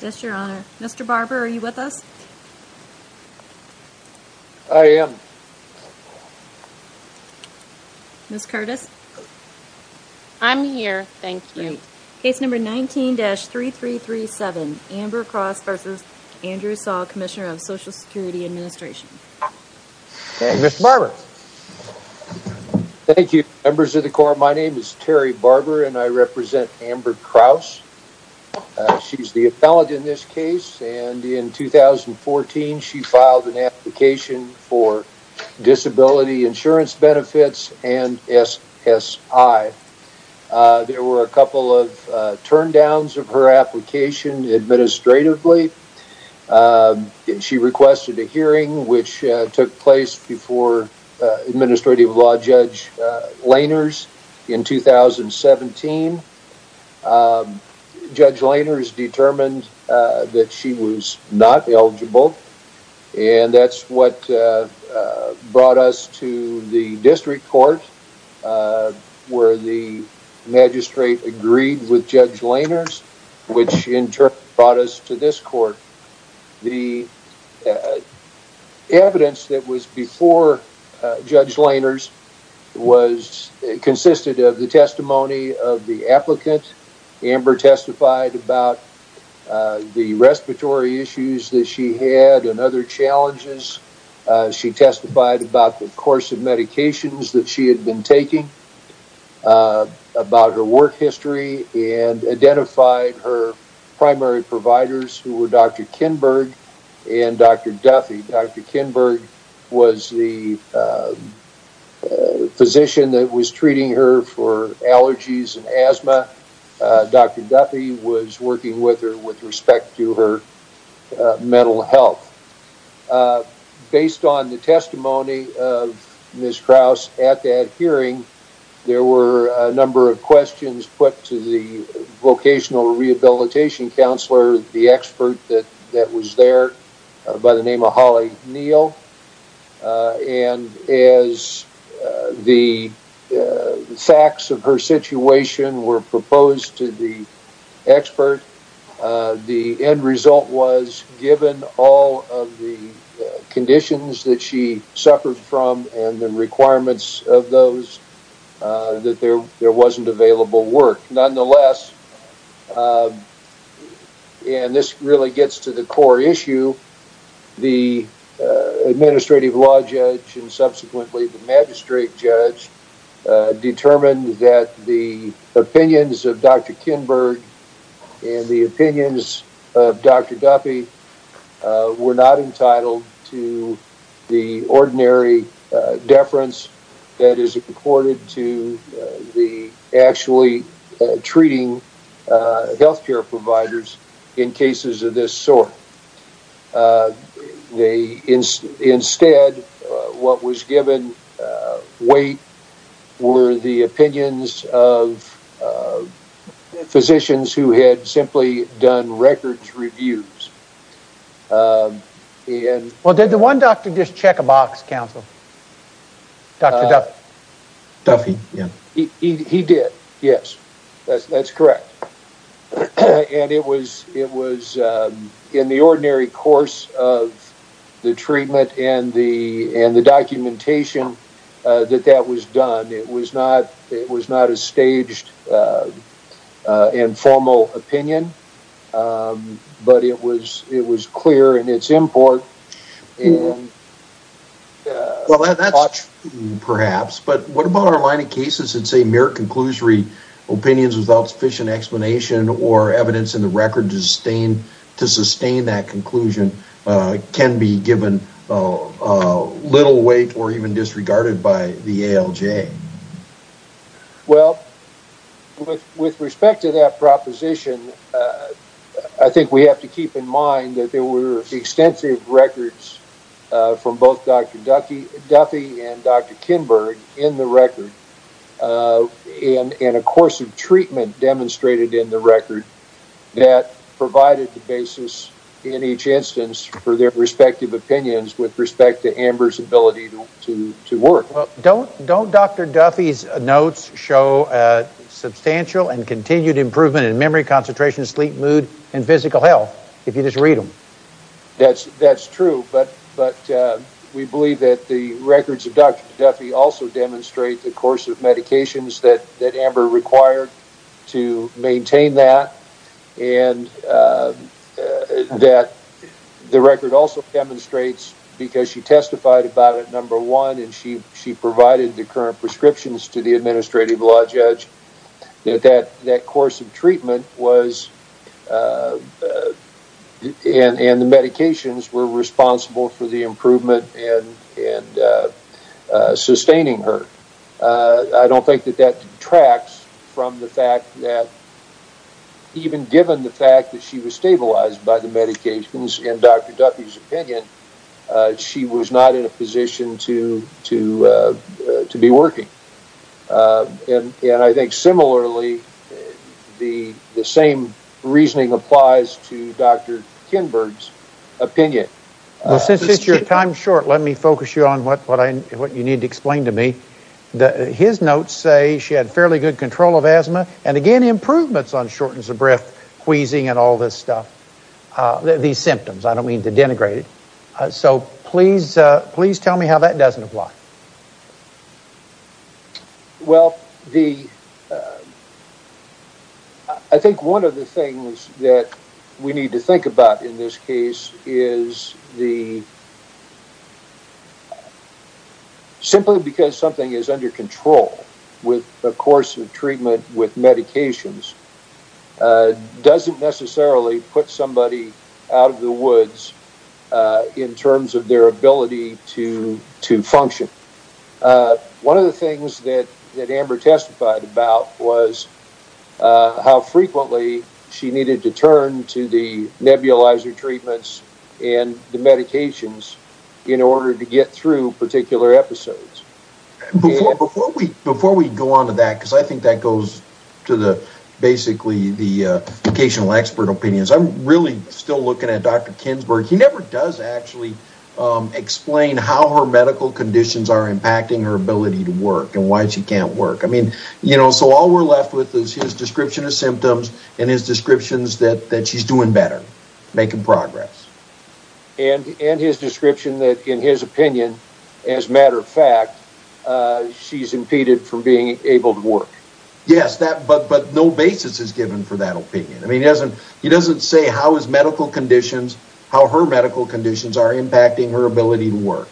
Mr. Barber are you with us? I am. Ms. Curtis? I'm here, thank you. Case number 19-3337 Amber Kraus v. Andrew Saul, Commissioner of Social Security Administration. Mr. Barber. Thank you, members of the Corps. My name is Terry Barber and I am the appellate in this case and in 2014 she filed an application for disability insurance benefits and SSI. There were a couple of turndowns of her application administratively. She requested a hearing which took place before Administrative Law Judge Lainers in 2017. Judge Lainers determined that she was not eligible and that's what brought us to the District Court where the magistrate agreed with Judge Lainers which in turn brought us to this court. The evidence that was before Judge Lainers consisted of the testimony of the applicant. Amber testified about the respiratory issues that she had and other challenges. She testified about the course of medications that she had been taking, about her work history, and identified her primary providers who were Dr. Kinberg and Dr. Duffy. Dr. Kinberg was the physician that was treating her for allergies and asthma. Dr. Duffy was working with her with respect to her mental health. Based on the testimony of Ms. Krause at that hearing, there were a number of questions put to the vocational rehabilitation counselor, the expert that was there by the name of Holly Neal. And as the facts of her situation were proposed to the expert, the end result was given all of the conditions that she suffered from and the requirements of those that there wasn't available work. Nonetheless, and this really gets to the core issue, the administrative law judge and subsequently the magistrate judge determined that the opinions of Dr. Kinberg and the opinions of Dr. Duffy were not entitled to the ordinary deference that is accorded to the actually treating health care providers in cases of this sort. Instead, what was given weight were the opinions of physicians who had simply done records reviews. Well, did the one doctor just check a box, counsel? Dr. Duffy? Duffy, yeah. He did, yes. That's correct. And it was in the ordinary course of the treatment and the documentation that that was done. It was not a staged and formal opinion, but it was clear in its import. Well, that's perhaps, but what about our line of cases that say mere conclusory opinions without sufficient explanation or evidence in the record to sustain that conclusion can be given little weight or even disregarded by the ALJ? Well, with respect to that proposition, I think we have to keep in mind that there were extensive records from both Dr. Duffy and Dr. Kinberg in the record and a course of treatment demonstrated in the record that provided the basis in each instance for their respective opinions with respect to Amber's ability to work. Don't Dr. Duffy's notes show substantial and continued improvement in memory concentration mood and physical health if you just read them? That's true, but we believe that the records of Dr. Duffy also demonstrate the course of medications that Amber required to maintain that and that the record also demonstrates because she testified about it, number one, and she provided the current prescriptions to the administrative law judge that that course of treatment was and the medications were responsible for the improvement and sustaining her. I don't think that that detracts from the fact that even given the fact that she was stabilized by the medications in Dr. Duffy's opinion, she was not in a position to be working and I think similarly, the same reasoning applies to Dr. Kinberg's opinion. Well, since it's your time short, let me focus you on what you need to explain to me. His notes say she had fairly good control of I don't mean to denigrate it, so please tell me how that doesn't apply. Well, I think one of the things that we need to think about in this case is simply because something is under control with the course of treatment with medications doesn't necessarily put somebody out of the woods in terms of their ability to function. One of the things that Amber testified about was how frequently she needed to turn to the nebulizer treatments and the medications in order to get through particular episodes. Before we go on to that, I think that goes to basically the vocational expert opinions. I'm really still looking at Dr. Kinberg. He never does actually explain how her medical conditions are impacting her ability to work and why she can't work. I mean, so all we're left with is his description of symptoms and his descriptions that she's doing better, making progress. And his description that in his opinion, as a matter of fact, she's impeded from being able to work. Yes, but no basis is given for that opinion. I mean, he doesn't say how his medical conditions, how her medical conditions are impacting her ability to work.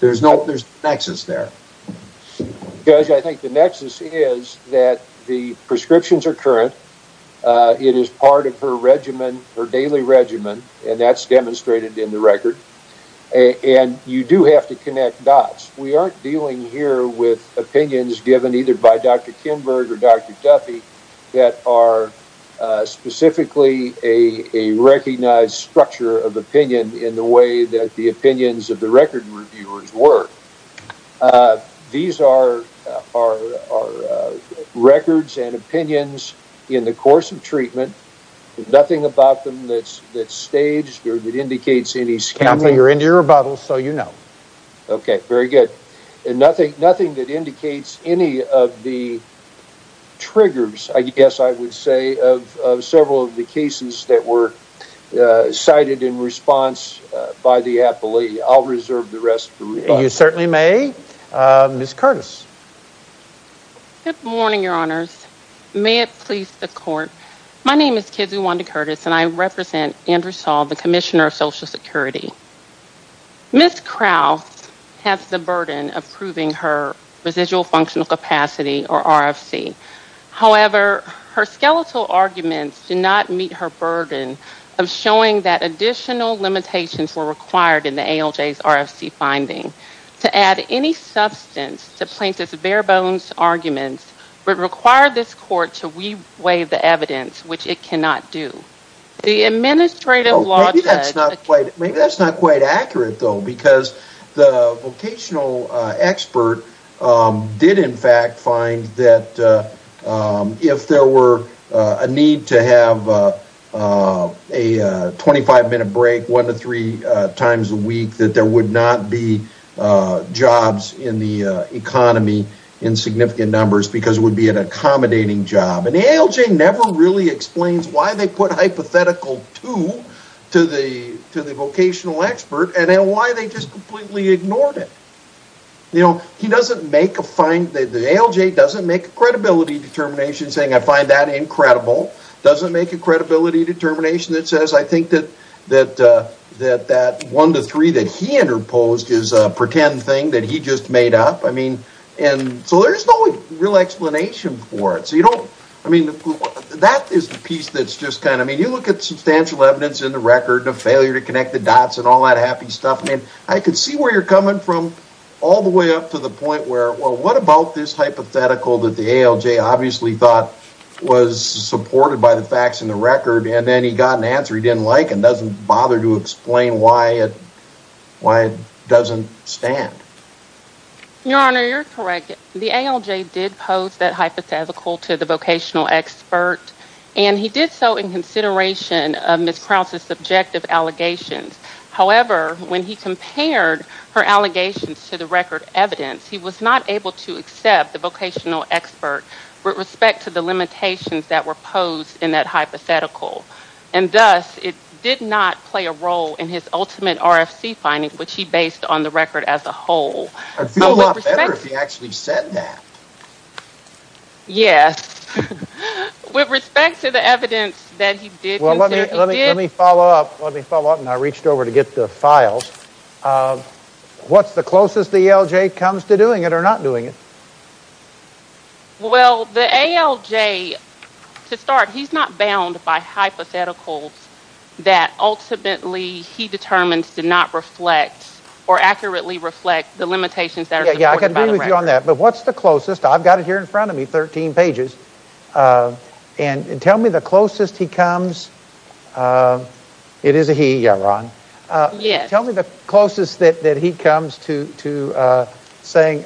There's no nexus there. Judge, I think the nexus is that the prescriptions are current. It is part of her regimen, her daily regimen, and that's demonstrated in the record. And you do have to connect dots. We aren't dealing here with opinions given either by Dr. Kinberg or Dr. Duffy that are specifically a recognized structure of opinion in the way that the opinions of the record reviewers were. These are records and opinions in the course of treatment, nothing about them that's staged or that indicates any scandal. You're in your rebuttal, so you know. Okay, very good. And nothing that indicates any of the triggers, I guess I would say, of several of the cases that were cited in response by the appellee. I'll reserve the rest. You certainly may. Ms. Curtis. Good morning, your honors. May it please the court. My name is Kizuwanda Curtis, and I represent Andrew Saul, the commissioner of social security. Ms. Krauss has the burden of proving her residual functional capacity or RFC. However, her skeletal arguments do not meet her burden of showing that additional limitations were required in the ALJ's RFC finding. To add any substance to plaintiff's bare bones arguments would require this court to weigh the evidence, which it cannot do. Maybe that's not quite accurate, though, because the vocational expert did, in fact, find that if there were a need to have a 25-minute break one to three times a week, that there would not be jobs in the economy in significant numbers because it would be an accommodating job. An ALJ never really explains why they put hypothetical two to the vocational expert and why they just completely ignored it. The ALJ doesn't make a credibility determination saying, I find that incredible. It doesn't make a credibility determination that says, I think that that one to three that he interposed is a pretend thing that he just made up. So there's no real explanation for it. That is the piece that's just kind of, I mean, you look at substantial evidence in the record of failure to connect the dots and all that stuff. I mean, I can see where you're coming from all the way up to the point where, well, what about this hypothetical that the ALJ obviously thought was supported by the facts in the record and then he got an answer he didn't like and doesn't bother to explain why it doesn't stand? Your Honor, you're correct. The ALJ did pose that hypothetical to the vocational expert and he did so in consideration of Ms. Krause's subjective allegations. However, when he compared her allegations to the record evidence, he was not able to accept the vocational expert with respect to the limitations that were posed in that hypothetical. And thus, it did not play a role in his ultimate RFC finding, which he based on the record as a whole. I'd feel a lot better if he actually said that. Yes. With respect to the evidence that he did... Well, let me follow up. Let me follow up and I reached over to get the files. What's the closest the ALJ comes to doing it or not doing it? Well, the ALJ, to start, he's not bound by hypotheticals that ultimately he determines to not reflect or accurately reflect the limitations that are supported by the record. But what's the closest? I've got it here in front of me, 13 pages. And tell me the closest he comes... It is a he, yeah, Ron. Tell me the closest that he comes to saying,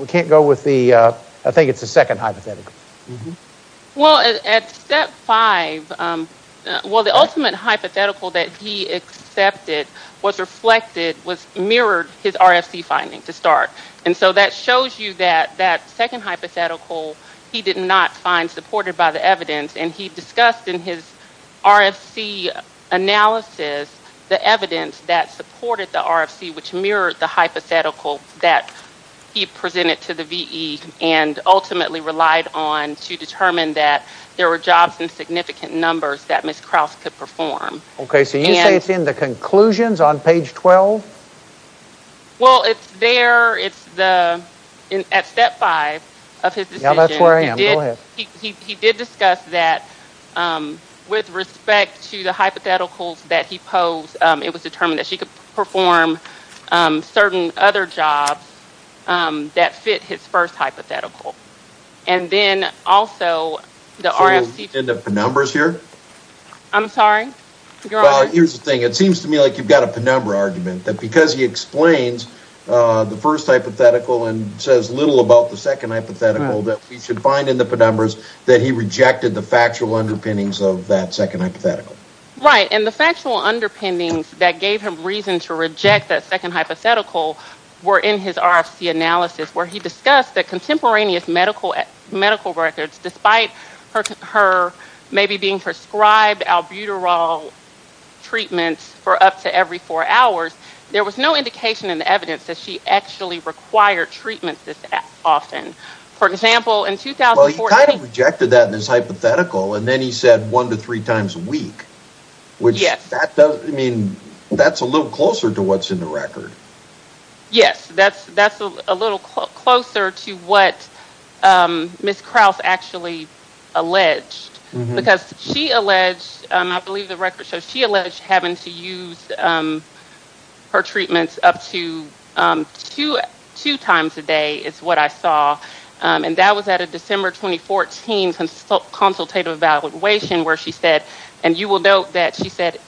we can't go with the... I think it's the second hypothetical. Well, at step five, well, the ultimate hypothetical that he accepted was reflected, mirrored his RFC finding to start. And so that shows you that that second hypothetical, he did not find supported by the evidence. And he discussed in his RFC analysis, the evidence that supported the RFC, which mirrored the hypothetical that he presented to the VE and ultimately relied on to determine that there were jobs in significant numbers that 12. Well, it's there, it's the, at step five of his decision, he did discuss that with respect to the hypotheticals that he posed, it was determined that she could perform certain other jobs that fit his first hypothetical. And then also the RFC... In the numbers here? I'm sorry? Here's the thing. It seems to me like you've got a penumbra argument that because he explains the first hypothetical and says little about the second hypothetical that we should find in the penumbras that he rejected the factual underpinnings of that second hypothetical. Right. And the factual underpinnings that gave him reason to reject that second hypothetical were in his RFC analysis, where he discussed that contemporaneous medical records, despite her maybe being prescribed albuterol treatments for up to every four hours, there was no indication in the evidence that she actually required treatment this often. For example, in 2014... Well, he kind of rejected that in his hypothetical, and then he said one to three times a week, which that's a little closer to what's in the record. Yes, that's a little closer to what Ms. Krause actually alleged. Because she alleged, I believe the record shows she alleged having to use her treatments up to two times a day, is what I saw. And that was at a December 2014 consultative evaluation where she said, and you will note that she said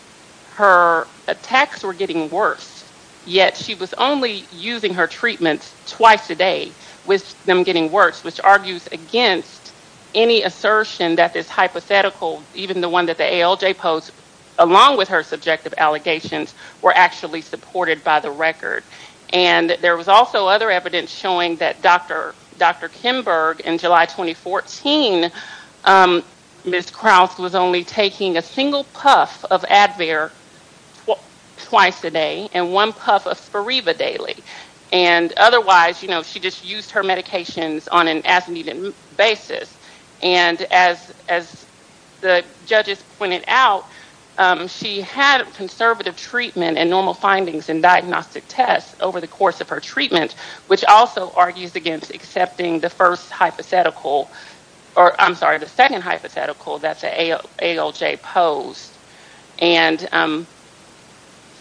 her attacks were getting worse, yet she was only using her treatments twice a day with them getting worse, which argues against any assertion that this hypothetical, even the one that the ALJ posed, along with her subjective allegations, were actually supported by the record. And there was also other evidence showing that Dr. Kimberg in a single puff of Advair twice a day and one puff of Spiriva daily. And otherwise, you know, she just used her medications on an as-needed basis. And as the judges pointed out, she had conservative treatment and normal findings in diagnostic tests over the course of her treatment, which also argues against accepting the first hypothetical, or I'm sorry, the second hypothetical that the ALJ posed. And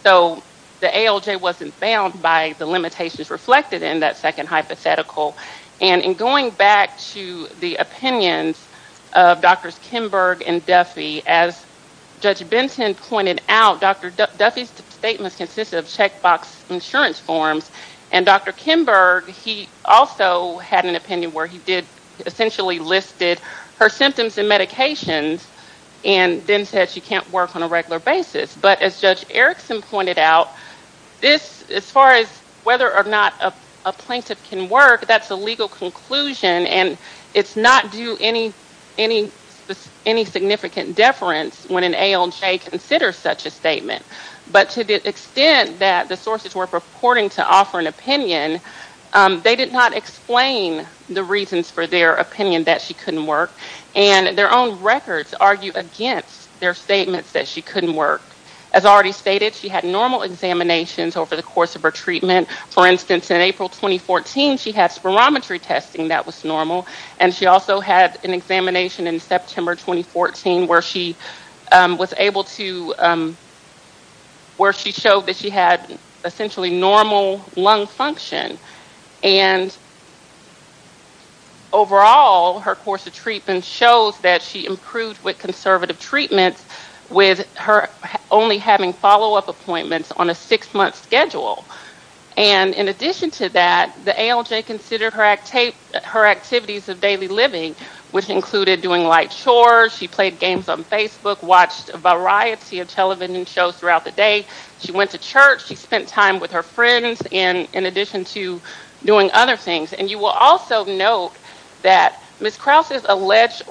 so the ALJ wasn't bound by the limitations reflected in that second hypothetical. And in going back to the opinions of Drs. Kimberg and Duffy, as Judge Benson pointed out, Dr. Duffy's statements consisted of checkbox insurance forms. And Dr. Kimberg, he also had an opinion where he did, essentially listed her symptoms and medications and then said she can't work on a regular basis. But as Judge Erickson pointed out, this, as far as whether or not a plaintiff can work, that's a legal conclusion and it's not due any significant deference when an ALJ considers such a statement. But to the extent that the ALJ did not offer an opinion, they did not explain the reasons for their opinion that she couldn't work. And their own records argue against their statements that she couldn't work. As already stated, she had normal examinations over the course of her treatment. For instance, in April 2014, she had spirometry testing that was normal. And she also had an examination in September 2014 where she was able to, where she showed that she had essentially normal lung function. And overall, her course of treatment shows that she improved with conservative treatments with her only having follow-up appointments on a six-month schedule. And in addition to that, the ALJ considered her activities of daily living, which included doing chores, she played games on Facebook, watched a variety of television shows throughout the day, she went to church, she spent time with her friends, in addition to doing other things. And you will also note that Ms. Krause's alleged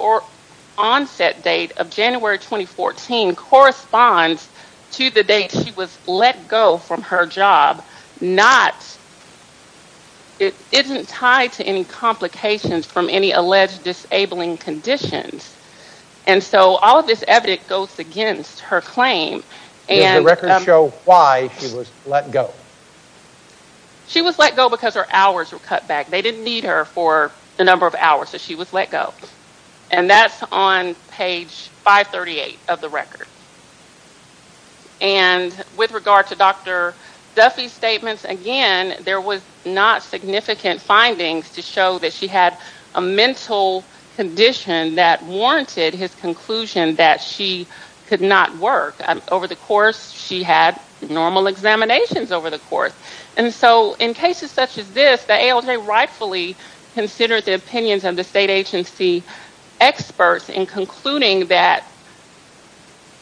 onset date of January 2014 corresponds to the date she was let go from her job, not, it isn't tied to any complications from any And so all of this evidence goes against her claim. Does the record show why she was let go? She was let go because her hours were cut back. They didn't need her for the number of hours, so she was let go. And that's on page 538 of the record. And with regard to Dr. Duffy's statements, again, there was not significant findings to show that she had a mental condition that warranted his conclusion that she could not work. Over the course, she had normal examinations over the course. And so in cases such as this, the ALJ rightfully considered the opinions of the state agency experts in concluding that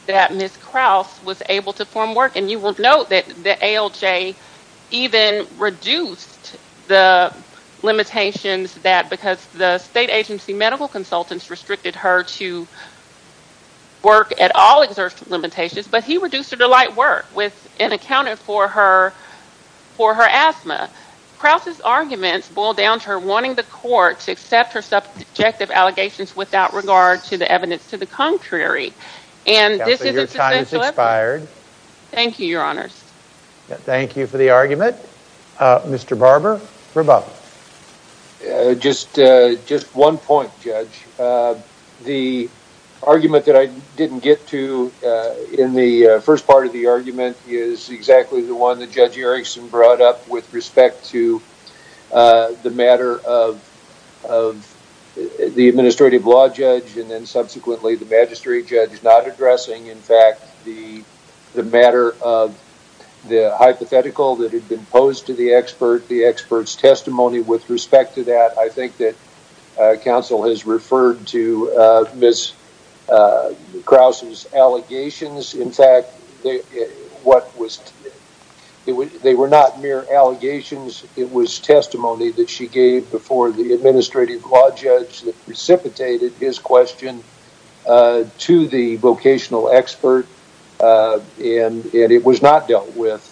Ms. Krause was able to form work. You will note that the ALJ even reduced the limitations that, because the state agency medical consultants restricted her to work at all exerted limitations, but he reduced her to light work and accounted for her asthma. Krause's arguments boil down to her wanting the court to accept her subjective allegations without regard to the evidence to the contrary. And this is a substantial effort. Your time has expired. Thank you, Your Honors. Thank you for the argument. Mr. Barber, for both. Just one point, Judge. The argument that I didn't get to in the first part of the argument is exactly the one that Judge Erickson brought up with respect to the matter of the administrative law judge and then not addressing, in fact, the matter of the hypothetical that had been posed to the expert, the expert's testimony with respect to that. I think that counsel has referred to Ms. Krause's allegations. In fact, they were not mere allegations. It was testimony that she gave before the administrative law judge that precipitated his question to the vocational expert, and it was not dealt with,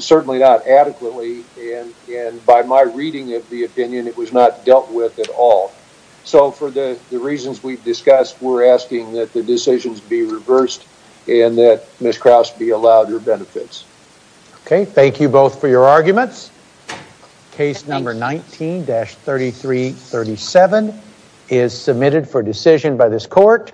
certainly not adequately, and by my reading of the opinion, it was not dealt with at all. So for the reasons we've discussed, we're asking that the decisions be reversed and that Ms. Krause be allowed her benefits. Okay. Thank you both for your arguments. Case number 19-3337 is submitted for decision by this court.